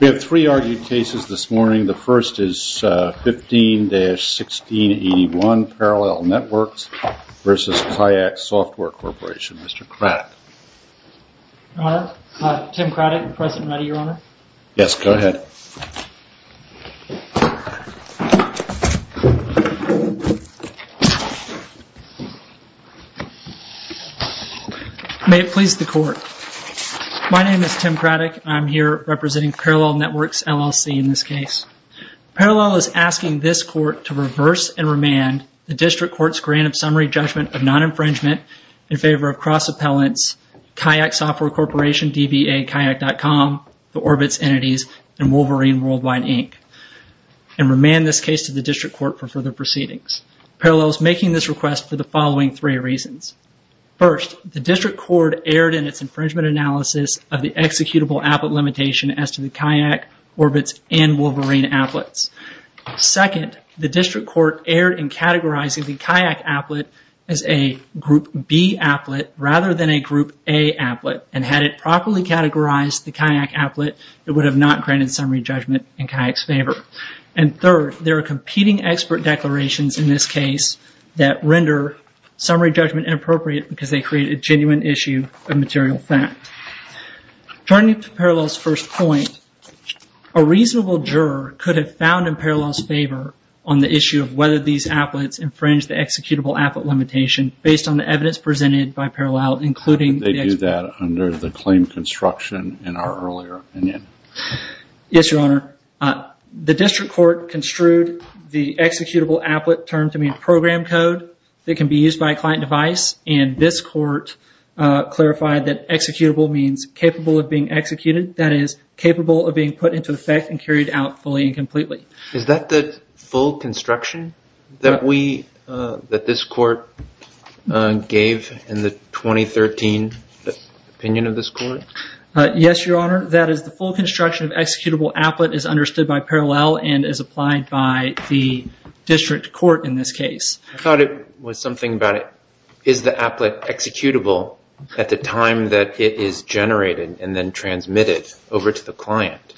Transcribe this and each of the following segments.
We have three argued cases this morning. The first is 15-1681 Parallel Networks v. Kayak Software Corporation. Mr. Craddock. Your Honor, Tim Craddock, present and ready, Your Honor. Yes, go ahead. May it please the Court. My name is Tim Craddock. I'm here representing Parallel Networks, LLC in this case. Parallel is asking this Court to reverse and remand the District Court's grant of summary judgment of non-infringement in favor of cross-appellants Kayak Software Corporation, DBA, Kayak.com, the Orbitz entities, and Wolverine Worldwide, Inc., and remand this case to the District Court for further proceedings. Parallel is making this request for the following three reasons. First, the District Court erred in its infringement analysis of the executable applet limitation as to the Kayak, Orbitz, and Wolverine applets. Second, the District Court erred in categorizing the Kayak applet as a Group B applet rather than a Group A applet. Had it properly categorized the Kayak applet, it would have not granted summary judgment in Kayak's favor. Third, there are competing expert declarations in this case that render summary judgment inappropriate because they create a genuine issue of material fact. Turning to Parallel's first point, a reasonable juror could have found in Parallel's favor on the issue of whether these applets infringe the executable applet limitation based on the evidence presented by Parallel, including... They do that under the claim construction in our earlier opinion. Yes, Your Honor. The District Court construed the executable applet term to mean program code that can be used by a client device. And this court clarified that executable means capable of being executed, that is, capable of being put into effect and carried out fully and completely. Is that the full construction that this court gave in the 2013 opinion of this court? Yes, Your Honor. That is the full construction of executable applet is understood by Parallel and is applied by the District Court in this case. I thought it was something about is the applet executable at the time that it is generated and then transmitted over to the client?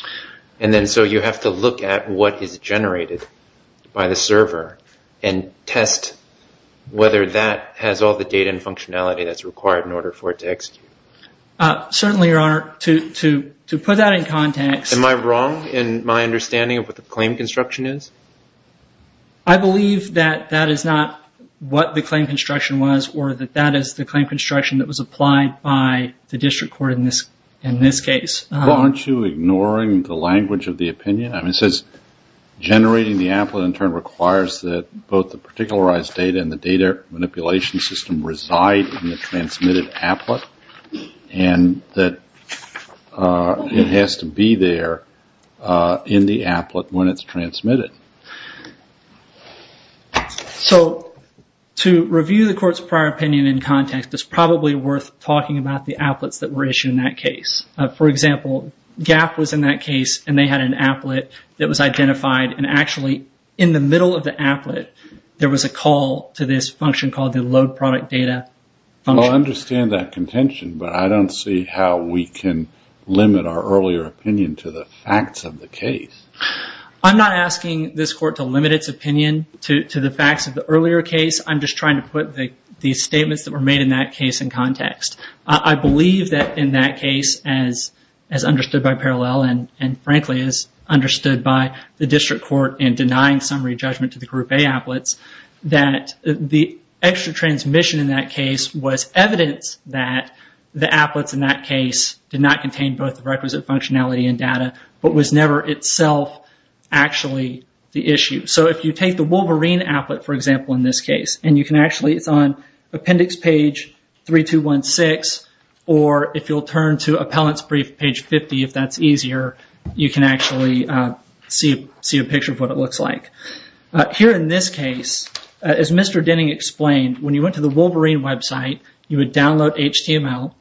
And then so you have to look at what is generated by the server and test whether that has all the data and functionality that's required in order for it to execute. Certainly, Your Honor. To put that in context... Am I wrong in my understanding of what the claim construction is? I believe that that is not what the claim construction was or that that is the claim construction that was applied by the District Court in this case. Aren't you ignoring the language of the opinion? It says generating the applet in turn requires that both the particularized data and the data manipulation system reside in the transmitted applet and that it has to be there in the applet when it's transmitted. So to review the court's prior opinion in context, it's probably worth talking about the applets that were issued in that case. For example, GAP was in that case and they had an applet that was identified and actually in the middle of the applet there was a call to this function called the load product data function. I understand that contention, but I don't see how we can limit our earlier opinion to the facts of the case. I'm not asking this court to limit its opinion to the facts of the earlier case. I'm just trying to put the statements that were made in that case in context. I believe that in that case, as understood by Parallel and frankly as understood by the District Court in denying summary judgment to the Group A applets, that the extra transmission in that case was evidence that the applets in that case did not contain both the requisite functionality and data but was never itself actually the issue. So if you take the Wolverine applet, for example, in this case, and it's on appendix page 3216, or if you'll turn to appellant's brief page 50 if that's easier, you can actually see a picture of what it looks like. Here in this case, as Mr. Denning explained, when you went to the Wolverine website, you would download HTML.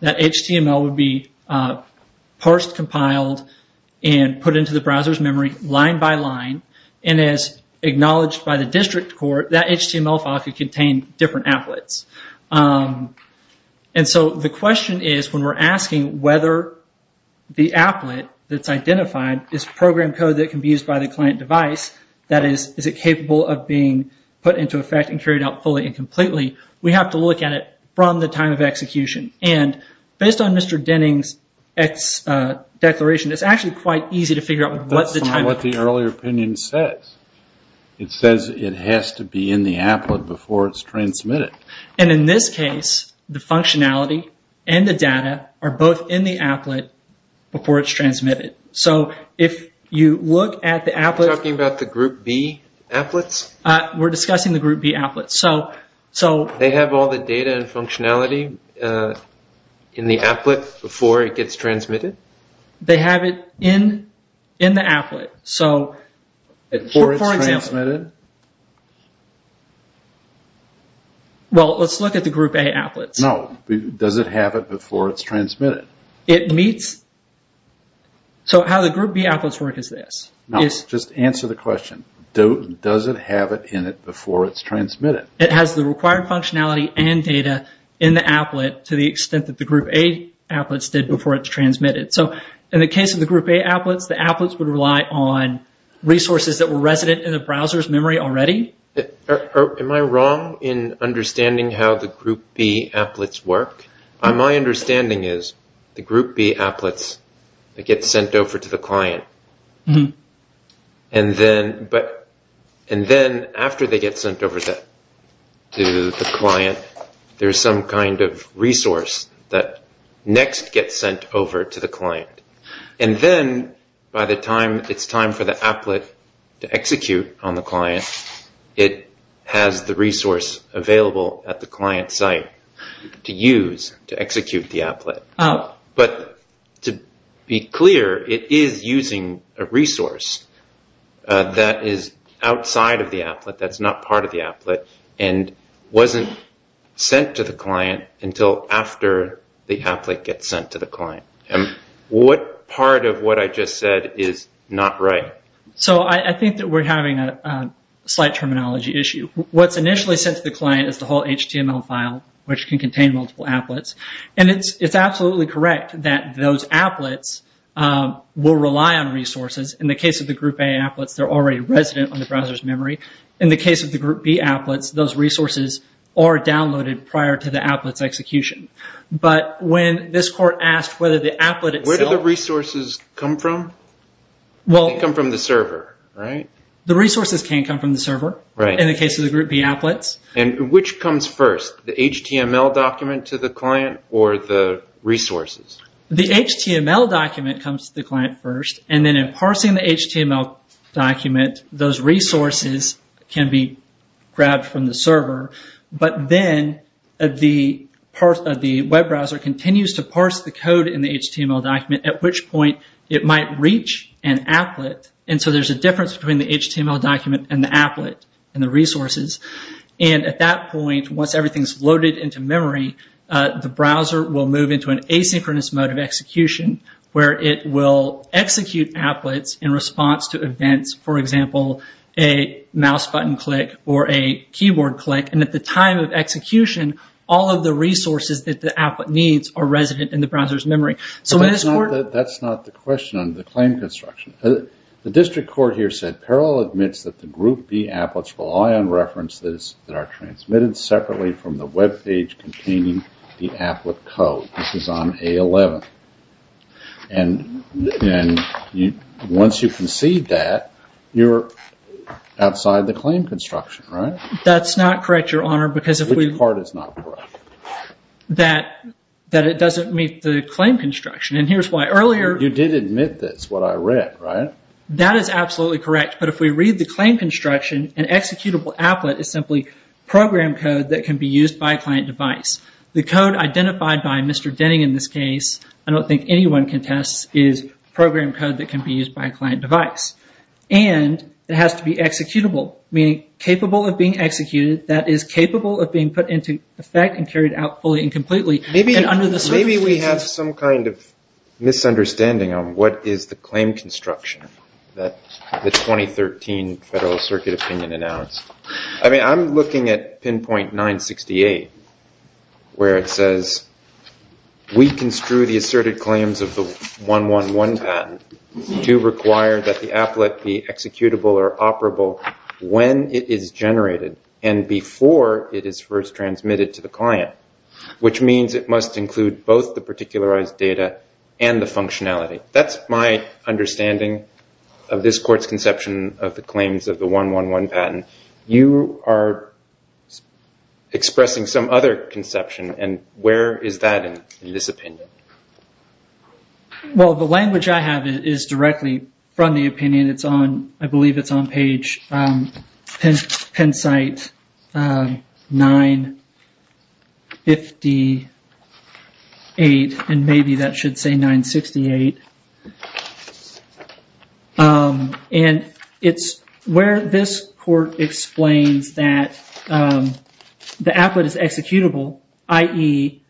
That HTML would be parsed, compiled, and put into the browser's memory line by line. As acknowledged by the District Court, that HTML file could contain different applets. The question is, when we're asking whether the applet that's identified is program code that can be used by the client device, that is, is it capable of being put into effect and carried out fully and completely, we have to look at it from the time of execution. Based on Mr. Denning's declaration, it's actually quite easy to figure out what the time of... That's not what the earlier opinion says. It says it has to be in the applet before it's transmitted. In this case, the functionality and the data are both in the applet before it's transmitted. So if you look at the applet... Are you talking about the Group B applets? We're discussing the Group B applets. They have all the data and functionality in the applet before it gets transmitted? They have it in the applet. Before it's transmitted? Well, let's look at the Group A applets. No. Does it have it before it's transmitted? It meets... So how the Group B applets work is this. Just answer the question. Does it have it in it before it's transmitted? It has the required functionality and data in the applet to the extent that the Group A applets did before it's transmitted. So in the case of the Group A applets, the applets would rely on resources that were resident in the browser's memory already. Am I wrong in understanding how the Group B applets work? My understanding is the Group B applets get sent over to the client. And then after they get sent over to the client, there's some kind of resource that next gets sent over to the client. And then by the time it's time for the applet to execute on the client, it has the resource available at the client site to use to execute the applet. But to be clear, it is using a resource that is outside of the applet, that's not part of the applet, and wasn't sent to the client until after the applet gets sent to the client. What part of what I just said is not right? So I think that we're having a slight terminology issue. What's initially sent to the client is the whole HTML file, which can contain multiple applets. And it's absolutely correct that those applets will rely on resources. In the case of the Group A applets, they're already resident on the browser's memory. In the case of the Group B applets, those resources are downloaded prior to the applet's execution. But when this court asked whether the applet itself... The resources can come from the server in the case of the Group B applets. And which comes first, the HTML document to the client or the resources? The HTML document comes to the client first. And then in parsing the HTML document, those resources can be grabbed from the server. But then the web browser continues to parse the code in the HTML document, at which point it might reach an applet. And so there's a difference between the HTML document and the applet and the resources. And at that point, once everything's loaded into memory, the browser will move into an asynchronous mode of execution where it will execute applets in response to events, for example, a mouse button click or a keyboard click. And at the time of execution, That's not the question on the claim construction. The district court here said Parole admits that the Group B applets rely on references that are transmitted separately from the web page containing the applet code. This is on A11. And once you concede that, you're outside the claim construction, right? That's not correct, Your Honor, because if we... Which part is not correct? That it doesn't meet the claim construction. And here's why. Earlier... You did admit this, what I read, right? That is absolutely correct. But if we read the claim construction, an executable applet is simply program code that can be used by a client device. The code identified by Mr. Denning in this case, I don't think anyone contests, is program code that can be used by a client device. And it has to be executable, meaning capable of being executed, that is capable of being put into effect and carried out fully and completely. Maybe we have some kind of misunderstanding on what is the claim construction that the 2013 Federal Circuit Opinion announced. I mean, I'm looking at Pinpoint 968, where it says, we construe the asserted claims of the 111 patent to require that the applet be executable or operable when it is generated. And before it is first transmitted to the client. Which means it must include both the particularized data and the functionality. That's my understanding of this court's conception of the claims of the 111 patent. You are expressing some other conception, and where is that in this opinion? Well, the language I have is directly from the opinion. It's on, I believe it's on page, Penn site 958, and maybe that should say 968. And it's where this court explains that the applet is executable, i.e.,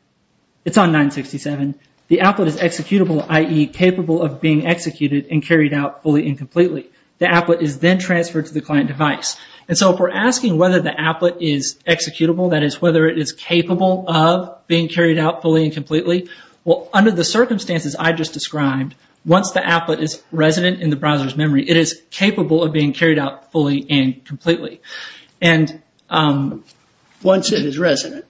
it's on 967. The applet is executable, i.e., capable of being executed and carried out fully and completely. The applet is then transferred to the client device. And so if we're asking whether the applet is executable, that is, whether it is capable of being carried out fully and completely, well, under the circumstances I just described, once the applet is resident in the browser's memory, it is capable of being carried out fully and completely. Once it is resident,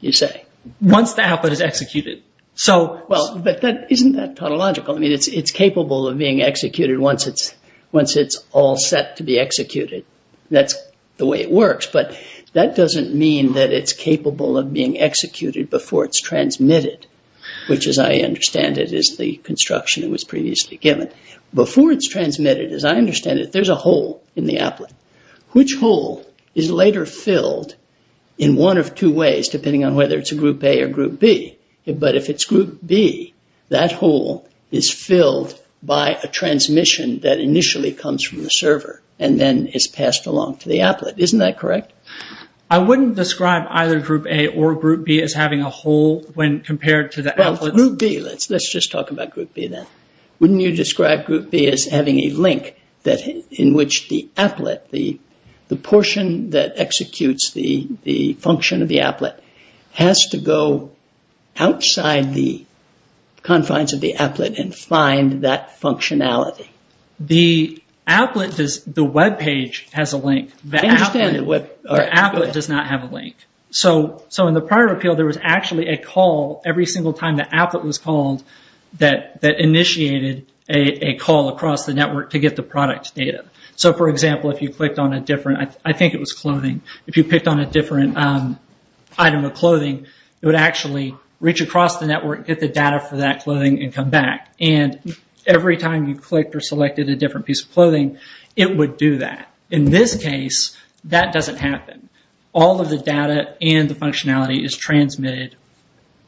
you say? Once the applet is executed. Well, but isn't that tautological? I mean, it's capable of being executed once it's all set to be executed. That's the way it works. But that doesn't mean that it's capable of being executed before it's transmitted, which, as I understand it, is the construction that was previously given. Before it's transmitted, as I understand it, there's a hole in the applet. Which hole is later filled in one of two ways, depending on whether it's a group A or group B. But if it's group B, that hole is filled by a transmission that initially comes from the server and then is passed along to the applet. Isn't that correct? I wouldn't describe either group A or group B as having a hole when compared to the applet. Well, group B, let's just talk about group B then. Wouldn't you describe group B as having a link in which the applet, the portion that executes the function of the applet, has to go outside the confines of the applet and find that functionality? The applet, the webpage has a link. The applet does not have a link. So in the prior appeal, there was actually a call every single time the applet was called that initiated a call across the network to get the product data. So, for example, if you clicked on a different, I think it was clothing, if you picked on a different item of clothing, it would actually reach across the network, get the data for that clothing, and come back. And every time you clicked or selected a different piece of clothing, it would do that. In this case, that doesn't happen. All of the data and the functionality is transmitted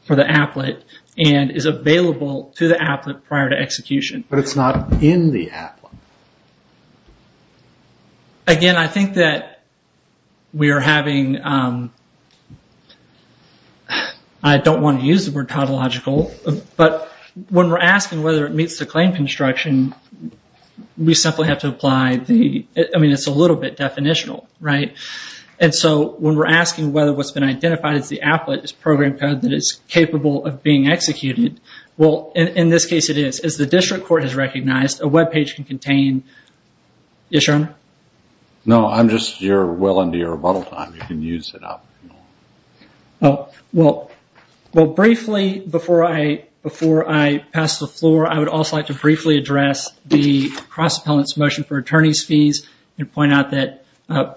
for the applet and is available to the applet prior to execution. But it's not in the applet. Again, I think that we are having, I don't want to use the word tautological, but when we're asking whether it meets the claim construction, we simply have to apply the, I mean, it's a little bit definitional. And so when we're asking whether what's been identified as the applet is program code that is capable of being executed, well, in this case it is. As the district court has recognized, a web page can contain, yes, Your Honor? No, I'm just, you're well into your rebuttal time. You can use it up. Well, briefly, before I pass the floor, I would also like to briefly address the cross-appellant's motion for attorney's fees and point out that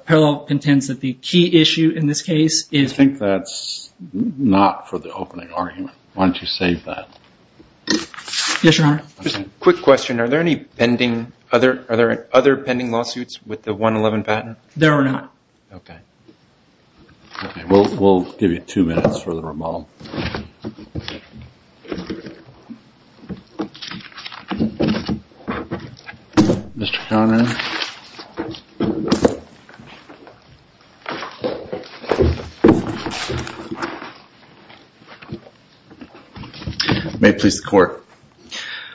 Parallel contends that the key issue in this case is. I think that's not for the opening argument. Why don't you save that? Yes, Your Honor. Just a quick question. Are there any pending, are there other pending lawsuits with the 111 patent? There are not. Okay. We'll give you two minutes for the rebuttal. Mr. Conner. May it please the Court.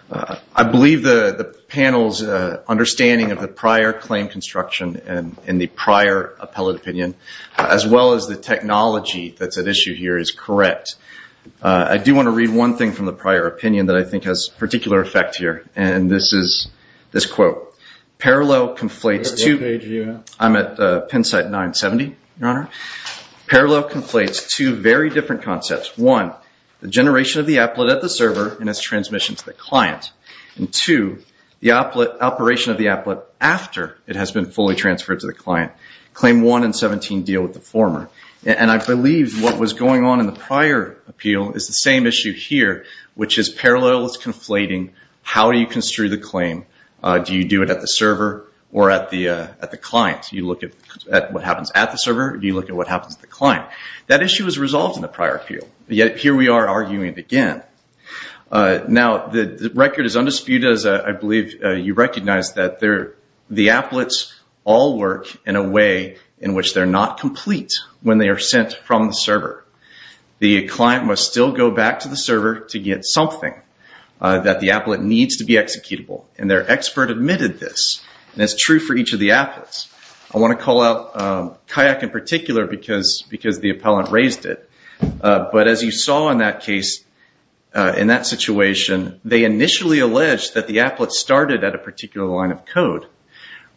I believe the panel's understanding of the prior claim construction and the prior appellate opinion, as well as the technology that's at issue here, is correct. I do want to read one thing from the prior opinion that I think has particular effect here, and this is this quote. Parallel conflates two. I'm at pen site 970, Your Honor. Parallel conflates two very different concepts. One, the generation of the appellate at the server and its transmission to the client. And two, the operation of the appellate after it has been fully transferred to the client. Claim 1 and 17 deal with the former. And I believe what was going on in the prior appeal is the same issue here, which is Parallel is conflating how you construe the claim. Do you do it at the server or at the client? Do you look at what happens at the server or do you look at what happens at the client? That issue was resolved in the prior appeal, yet here we are arguing it again. Now, the record is undisputed, as I believe you recognize, that the appellates all work in a way in which they're not complete when they are sent from the server. The client must still go back to the server to get something that the appellate needs to be executable, and their expert admitted this, and it's true for each of the appellates. I want to call out Kayak in particular because the appellant raised it. But as you saw in that case, in that situation, they initially alleged that the appellate started at a particular line of code,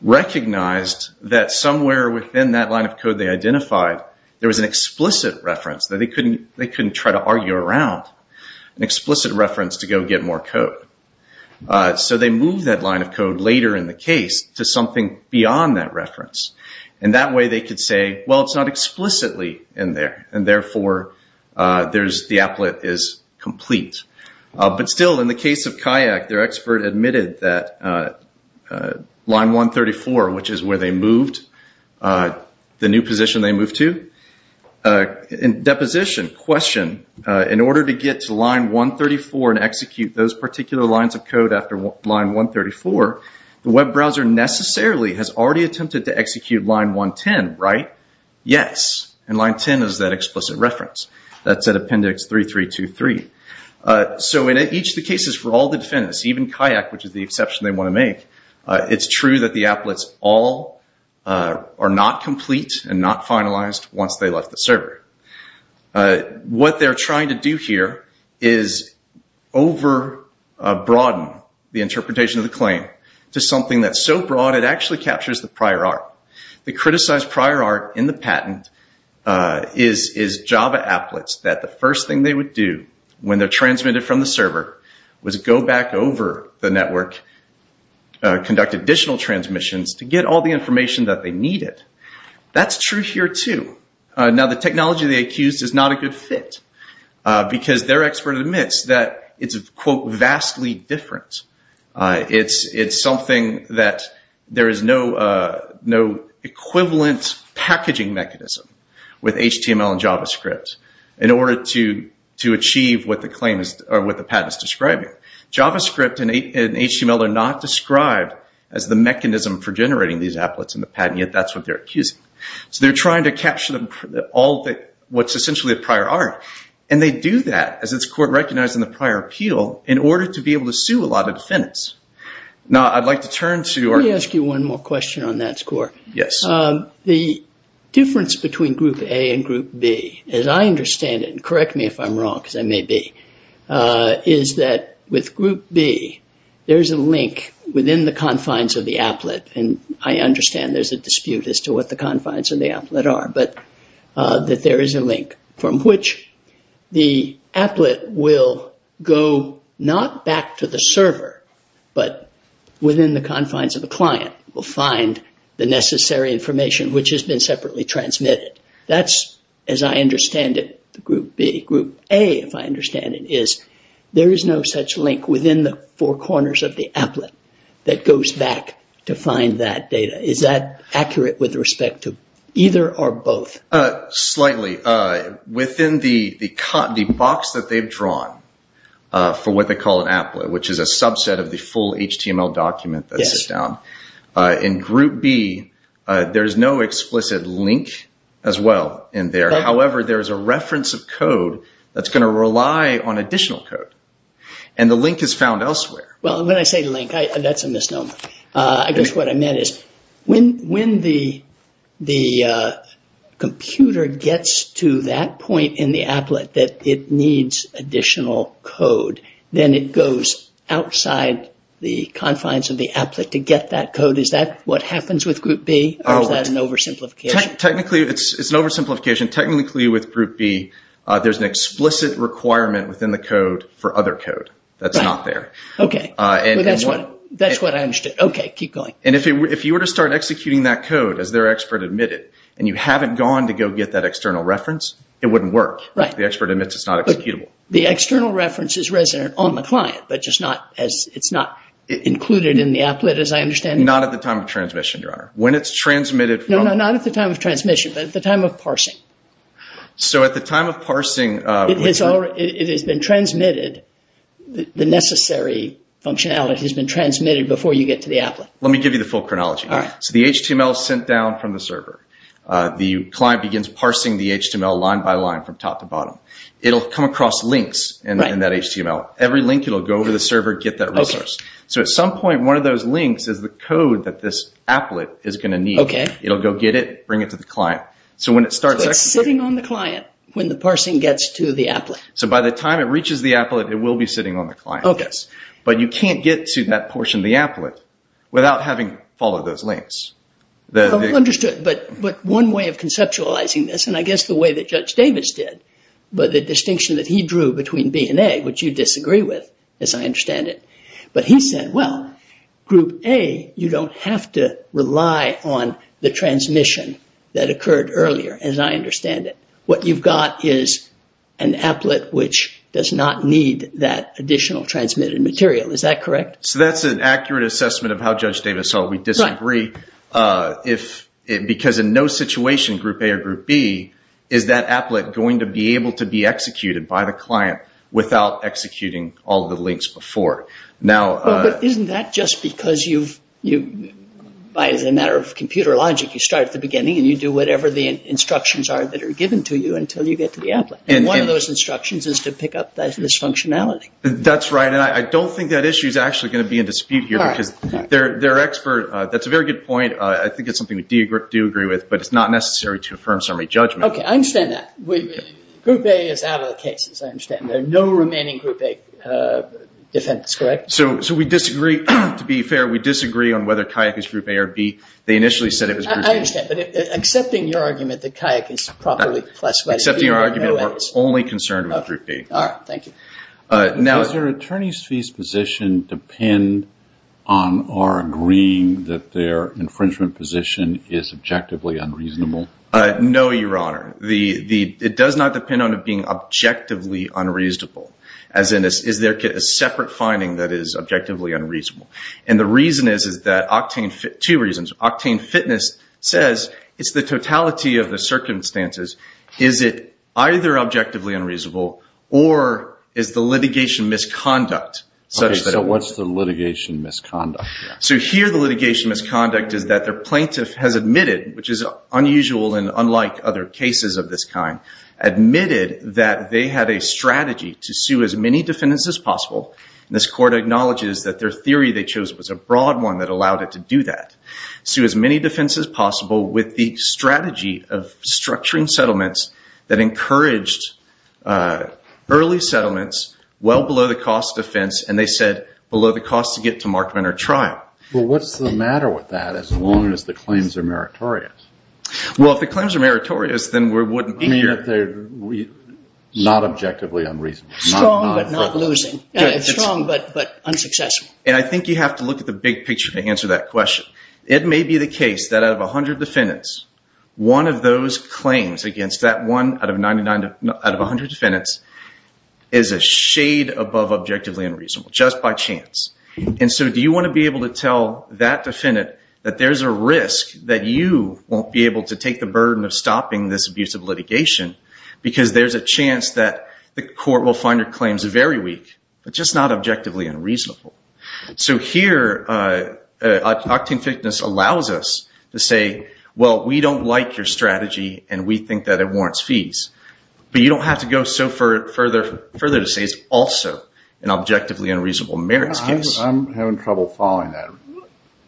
recognized that somewhere within that line of code they identified, there was an explicit reference that they couldn't try to argue around, an explicit reference to go get more code. So they moved that line of code later in the case to something beyond that reference, and that way they could say, well, it's not explicitly in there, and therefore the appellate is complete. But still, in the case of Kayak, their expert admitted that line 134, which is where they moved, the new position they moved to, in deposition, question, in order to get to line 134 and execute those particular lines of code after line 134, the web browser necessarily has already attempted to execute line 110, right? Yes, and line 10 is that explicit reference. That's at appendix 3, 3, 2, 3. So in each of the cases for all the defendants, even Kayak, which is the exception they want to make, it's true that the appellates all are not complete and not finalized once they left the server. What they're trying to do here is overbroaden the interpretation of the claim to something that's so broad it actually captures the prior art. The criticized prior art in the patent is Java appellates, that the first thing they would do when they're transmitted from the server was go back over the network, conduct additional transmissions to get all the information that they needed. That's true here, too. Now, the technology they accused is not a good fit because their expert admits that it's, quote, vastly different. It's something that there is no equivalent packaging mechanism with HTML and JavaScript in order to achieve what the patent is describing. JavaScript and HTML are not described as the mechanism for generating these appellates in the patent, yet that's what they're accusing. So they're trying to capture what's essentially a prior art, and they do that as it's court-recognized in the prior appeal in order to be able to sue a lot of defendants. Now, I'd like to turn to our... Let me ask you one more question on that score. Yes. The difference between Group A and Group B, as I understand it, and correct me if I'm wrong, because I may be, is that with Group B, there's a link within the confines of the applet, and I understand there's a dispute as to what the confines of the applet are, but that there is a link from which the applet will go not back to the server, but within the confines of the client will find the necessary information which has been separately transmitted. That's, as I understand it, Group B. Group A, if I understand it, is there is no such link within the four corners of the applet that goes back to find that data. Is that accurate with respect to either or both? Slightly. Within the box that they've drawn for what they call an applet, which is a subset of the full HTML document that sits down, in Group B, there is no explicit link as well in there. However, there is a reference of code that's going to rely on additional code, and the link is found elsewhere. Well, when I say link, that's a misnomer. I guess what I meant is when the computer gets to that point in the applet that it needs additional code, then it goes outside the confines of the applet to get that code. Is that what happens with Group B, or is that an oversimplification? Technically, it's an oversimplification. Technically, with Group B, there's an explicit requirement within the code for other code that's not there. Okay. That's what I understood. Okay. Keep going. If you were to start executing that code, as their expert admitted, and you haven't gone to go get that external reference, it wouldn't work. Right. The expert admits it's not executable. The external reference is resident on the client, but it's not included in the applet, as I understand it. Not at the time of transmission, Your Honor. No, not at the time of transmission, but at the time of parsing. So at the time of parsing, it has been transmitted, the necessary functionality has been transmitted, before you get to the applet. Let me give you the full chronology. All right. So the HTML is sent down from the server. The client begins parsing the HTML line by line from top to bottom. It'll come across links in that HTML. Every link, it'll go over the server, get that resource. So at some point, one of those links is the code that this applet is going to need. Okay. It'll go get it, bring it to the client. So when it starts executing. It's sitting on the client when the parsing gets to the applet. So by the time it reaches the applet, it will be sitting on the client. But you can't get to that portion of the applet without having followed those links. Understood. But one way of conceptualizing this, and I guess the way that Judge Davis did, but the distinction that he drew between B and A, which you disagree with, as I understand it. But he said, well, Group A, you don't have to rely on the transmission that occurred earlier, as I understand it. What you've got is an applet which does not need that additional transmitted material. Is that correct? So that's an accurate assessment of how Judge Davis saw it. Because in no situation, Group A or Group B, is that applet going to be able to be executed by the client without executing all the links before. But isn't that just because you, as a matter of computer logic, you start at the beginning and you do whatever the instructions are that are given to you until you get to the applet. And one of those instructions is to pick up this functionality. That's right. And I don't think that issue is actually going to be in dispute here. That's a very good point. I think it's something that we do agree with, but it's not necessary to affirm summary judgment. Okay, I understand that. Group A is out of the case, as I understand it. There are no remaining Group A defendants, correct? So we disagree, to be fair, we disagree on whether Kayak is Group A or B. They initially said it was Group A. I understand, but accepting your argument that Kayak is properly classified. Accepting your argument, we're only concerned with Group B. All right, thank you. Does their attorney's fees position depend on our agreeing that their infringement position is objectively unreasonable? No, Your Honor. It does not depend on it being objectively unreasonable. As in, is there a separate finding that is objectively unreasonable? And the reason is that Octane Fitness, two reasons. Octane Fitness says it's the totality of the circumstances. Is it either objectively unreasonable, or is the litigation misconduct? Okay, so what's the litigation misconduct? So here the litigation misconduct is that their plaintiff has admitted, which is unusual and unlike other cases of this kind, admitted that they had a strategy to sue as many defendants as possible. This court acknowledges that their theory they chose was a broad one that allowed it to do that. Sue as many defendants as possible with the strategy of structuring settlements that encouraged early settlements well below the cost of defense, and they said below the cost to get to markment or trial. Well, what's the matter with that as long as the claims are meritorious? Well, if the claims are meritorious, then we wouldn't be here. I mean, if they're not objectively unreasonable. Strong but not losing. Strong but unsuccessful. And I think you have to look at the big picture to answer that question. It may be the case that out of 100 defendants, one of those claims against that one out of 100 defendants is a shade above objectively unreasonable, just by chance. And so do you want to be able to tell that defendant that there's a risk that you won't be able to take the burden of stopping this abusive litigation because there's a chance that the court will find your claims very weak, but just not objectively unreasonable. So here, octane thickness allows us to say, well, we don't like your strategy and we think that it warrants fees. But you don't have to go so further to say it's also an objectively unreasonable merits case. I'm having trouble following that.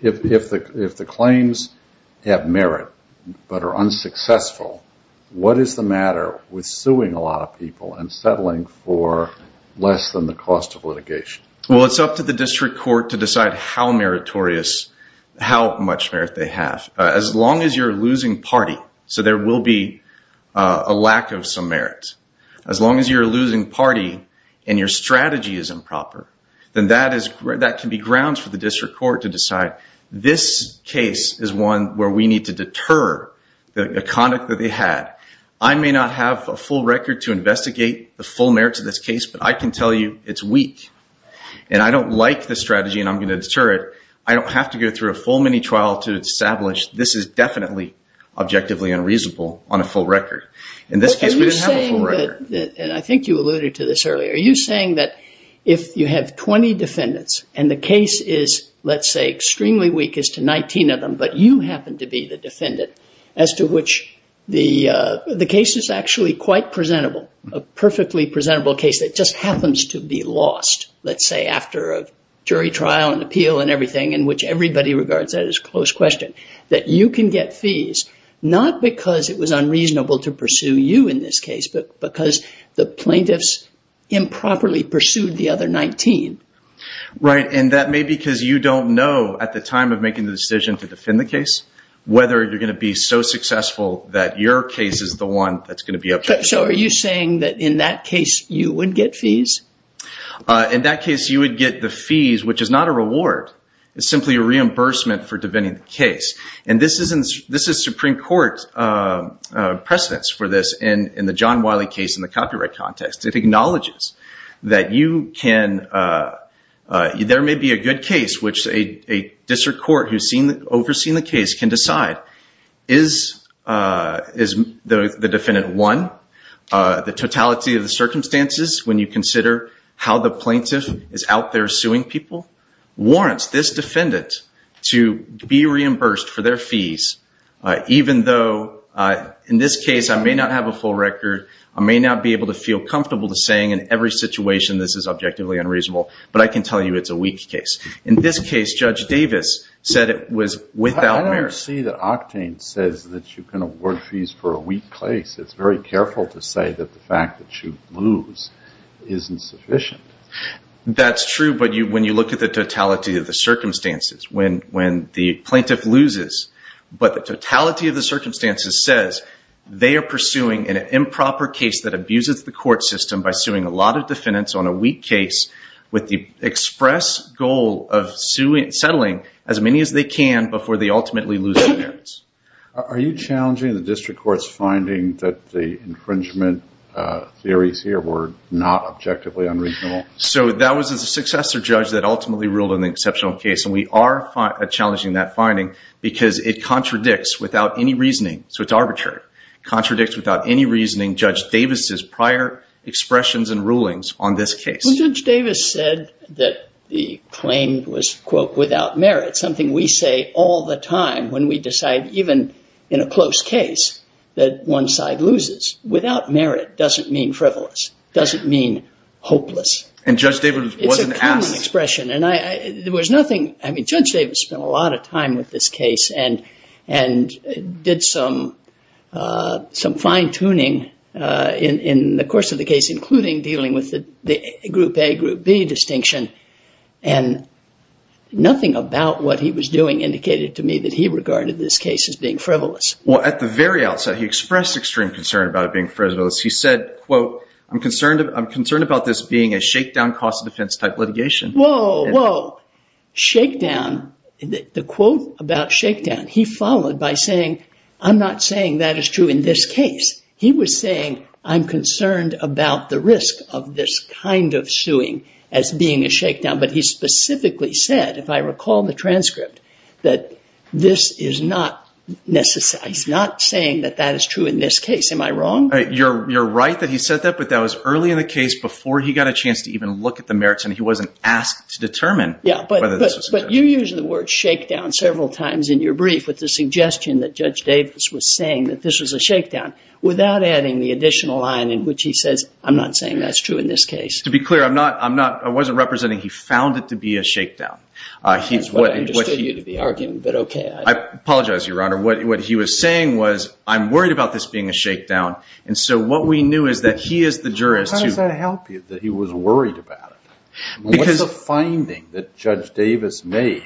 If the claims have merit but are unsuccessful, what is the matter with suing a lot of people and settling for less than the cost of litigation? Well, it's up to the district court to decide how meritorious, how much merit they have. As long as you're losing party, so there will be a lack of some merit. As long as you're losing party and your strategy is improper, then that can be grounds for the district court to decide, this case is one where we need to deter the conduct that they had. I may not have a full record to investigate the full merits of this case, but I can tell you it's weak. And I don't like the strategy and I'm going to deter it. I don't have to go through a full mini trial to establish this is definitely objectively unreasonable on a full record. In this case, we didn't have a full record. And I think you alluded to this earlier. Are you saying that if you have 20 defendants and the case is, let's say, extremely weak as to 19 of them, but you happen to be the defendant, as to which the case is actually quite presentable, a perfectly presentable case that just happens to be lost, let's say, after a jury trial and appeal and everything in which everybody regards that as close question, that you can get fees not because it was unreasonable to pursue you in this case, but because the plaintiffs improperly pursued the other 19? Right. And that may be because you don't know at the time of making the decision to defend the case, whether you're going to be so successful that your case is the one that's going to be up. So are you saying that in that case you would get fees? In that case, you would get the fees, which is not a reward. It's simply a reimbursement for defending the case. And this is Supreme Court's precedence for this. And in the John Wiley case in the copyright context, it acknowledges that you can – there may be a good case which a district court who's overseeing the case can decide, is the defendant one, the totality of the circumstances, when you consider how the plaintiff is out there suing people, warrants this defendant to be reimbursed for their fees, even though in this case I may not have a full record, I may not be able to feel comfortable saying in every situation this is objectively unreasonable, but I can tell you it's a weak case. In this case, Judge Davis said it was without merit. I don't see that Octane says that you can award fees for a weak case. It's very careful to say that the fact that you lose isn't sufficient. That's true, but when you look at the totality of the circumstances, when the plaintiff loses, but the totality of the circumstances says they are pursuing an improper case that abuses the court system by suing a lot of defendants on a weak case with the express goal of settling as many as they can before they ultimately lose their merits. Are you challenging the district court's finding that the infringement theories here were not objectively unreasonable? So that was a successor judge that ultimately ruled on the exceptional case, and we are challenging that finding because it contradicts without any reasoning, so it's arbitrary, contradicts without any reasoning Judge Davis' prior expressions and rulings on this case. Well, Judge Davis said that the claim was, quote, without merit, something we say all the time when we decide, even in a close case, that one side loses. Without merit doesn't mean frivolous, doesn't mean hopeless. And Judge Davis wasn't asked. It's a common expression, and there was nothing. I mean, Judge Davis spent a lot of time with this case and did some fine-tuning in the course of the case, including dealing with the Group A, Group B distinction, and nothing about what he was doing indicated to me that he regarded this case as being frivolous. Well, at the very outset, he expressed extreme concern about it being frivolous. He said, quote, I'm concerned about this being a shakedown cost of defense type litigation. Whoa, whoa. Shakedown, the quote about shakedown, he followed by saying, I'm not saying that is true in this case. He was saying, I'm concerned about the risk of this kind of suing as being a shakedown. But he specifically said, if I recall the transcript, that this is not saying that that is true in this case. Am I wrong? You're right that he said that, but that was early in the case, before he got a chance to even look at the merits, and he wasn't asked to determine whether this was a shakedown. Yeah, but you use the word shakedown several times in your brief with the suggestion that Judge Davis was saying that this was a shakedown, without adding the additional line in which he says, I'm not saying that's true in this case. To be clear, I wasn't representing he found it to be a shakedown. That's what I understood you to be arguing, but okay. I apologize, Your Honor. What he was saying was, I'm worried about this being a shakedown, and so what we knew is that he is the jurist. How does that help you, that he was worried about it? What's the finding that Judge Davis made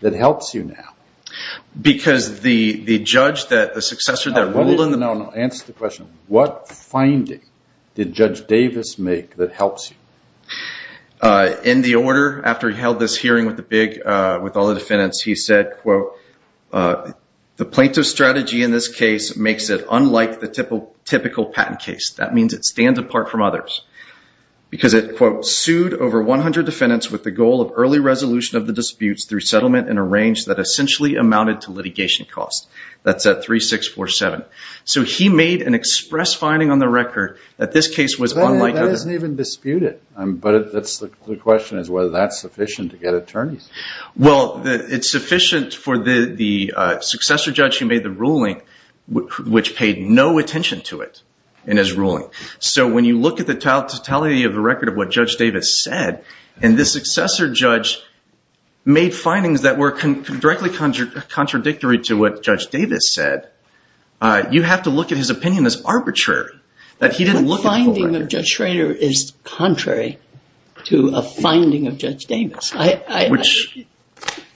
that helps you now? Because the judge, the successor that ruled in the case, answers the question, what finding did Judge Davis make that helps you? In the order, after he held this hearing with all the defendants, he said, quote, the plaintiff's strategy in this case makes it unlike the typical patent case. That means it stands apart from others because it, quote, sued over 100 defendants with the goal of early resolution of the disputes through settlement in a range that essentially amounted to litigation costs. That's at 3647. So he made an express finding on the record that this case was unlike other. That doesn't even dispute it, but the question is whether that's sufficient to get attorneys. Well, it's sufficient for the successor judge who made the ruling, which paid no attention to it in his ruling. So when you look at the totality of the record of what Judge Davis said, and the successor judge made findings that were directly contradictory to what he said, you have to look at his opinion as arbitrary, that he didn't look at the record. The finding of Judge Schrader is contrary to a finding of Judge Davis.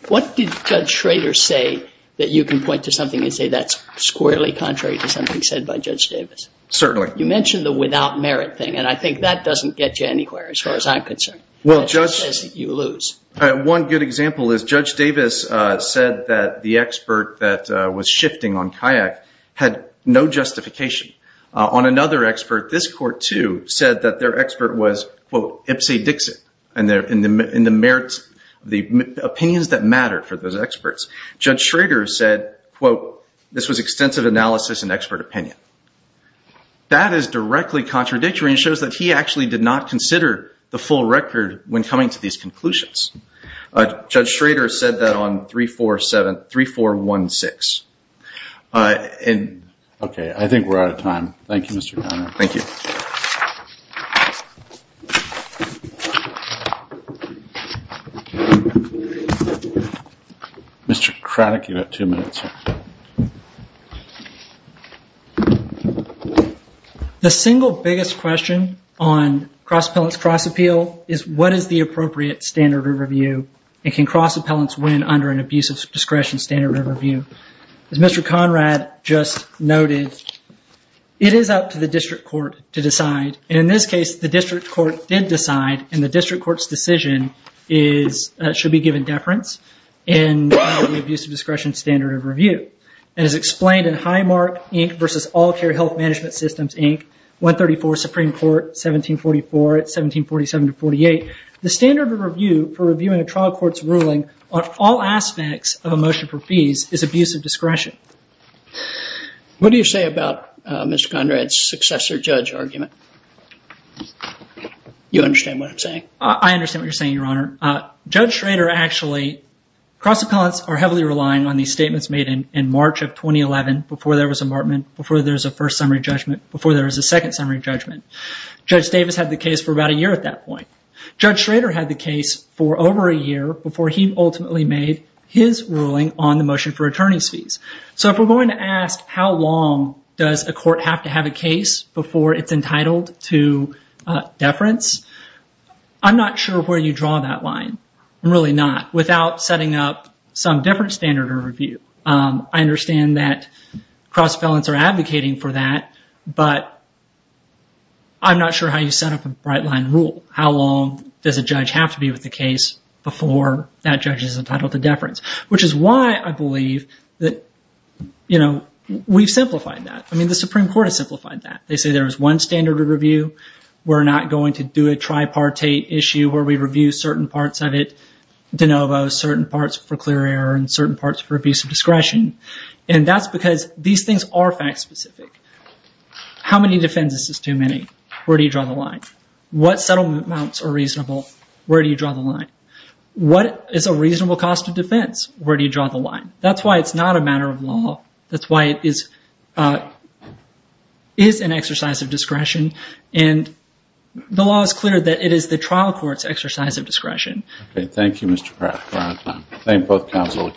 What did Judge Schrader say that you can point to something and say that's squarely contrary to something said by Judge Davis? Certainly. You mentioned the without merit thing, and I think that doesn't get you anywhere as far as I'm concerned. It just says that you lose. One good example is Judge Davis said that the expert that was shifting on Kayak had no justification. On another expert, this court, too, said that their expert was, quote, Ipsy Dixit in the merits of the opinions that mattered for those experts. Judge Schrader said, quote, this was extensive analysis and expert opinion. That is directly contradictory and shows that he actually did not consider the Judge Schrader said that on 3-4-7, 3-4-1-6. Okay. I think we're out of time. Thank you, Mr. Conner. Thank you. Mr. Craddock, you have two minutes. The single biggest question on Cross Appeal is what is the appropriate standard of review and can cross appellants win under an abusive discretion standard of review? As Mr. Conrad just noted, it is up to the district court to decide. In this case, the district court did decide, and the district court's decision should be given deference in the abusive discretion standard of review. It is explained in Highmark, Inc., versus All Care Health Management Systems, Inc., 134, Supreme Court, 1744. It's 1747-48. The standard of review for reviewing a trial court's ruling on all aspects of a motion for fees is abusive discretion. What do you say about Mr. Conrad's successor judge argument? You understand what I'm saying? I understand what you're saying, Your Honor. Judge Schrader actually, cross appellants are heavily relying on these statements made in March of 2011 before there was a markment, before there was a first summary judgment, before there was a second summary judgment. Judge Davis had the case for about a year at that point. Judge Schrader had the case for over a year before he ultimately made his ruling on the motion for attorney's fees. If we're going to ask how long does a court have to have a case before it's entitled to deference, I'm not sure where you draw that line. I'm really not, without setting up some different standard of review. I understand that cross appellants are advocating for that, but I'm not sure how you set up a bright line rule. How long does a judge have to be with the case before that judge is entitled to deference? Which is why I believe that, you know, we've simplified that. I mean, the Supreme Court has simplified that. They say there is one standard of review. We're not going to do a tripartite issue where we review certain parts of it de novo, certain parts for clear error, and certain parts for abuse of discretion. And that's because these things are fact specific. How many defenses is too many? Where do you draw the line? What settlement amounts are reasonable? Where do you draw the line? What is a reasonable cost of defense? Where do you draw the line? That's why it's not a matter of law. That's why it is an exercise of discretion, and the law is clear that it is the trial court's exercise of discretion. Okay. Thank you, Mr. Pratt, for your time. Thank both counsel. The case is submitted.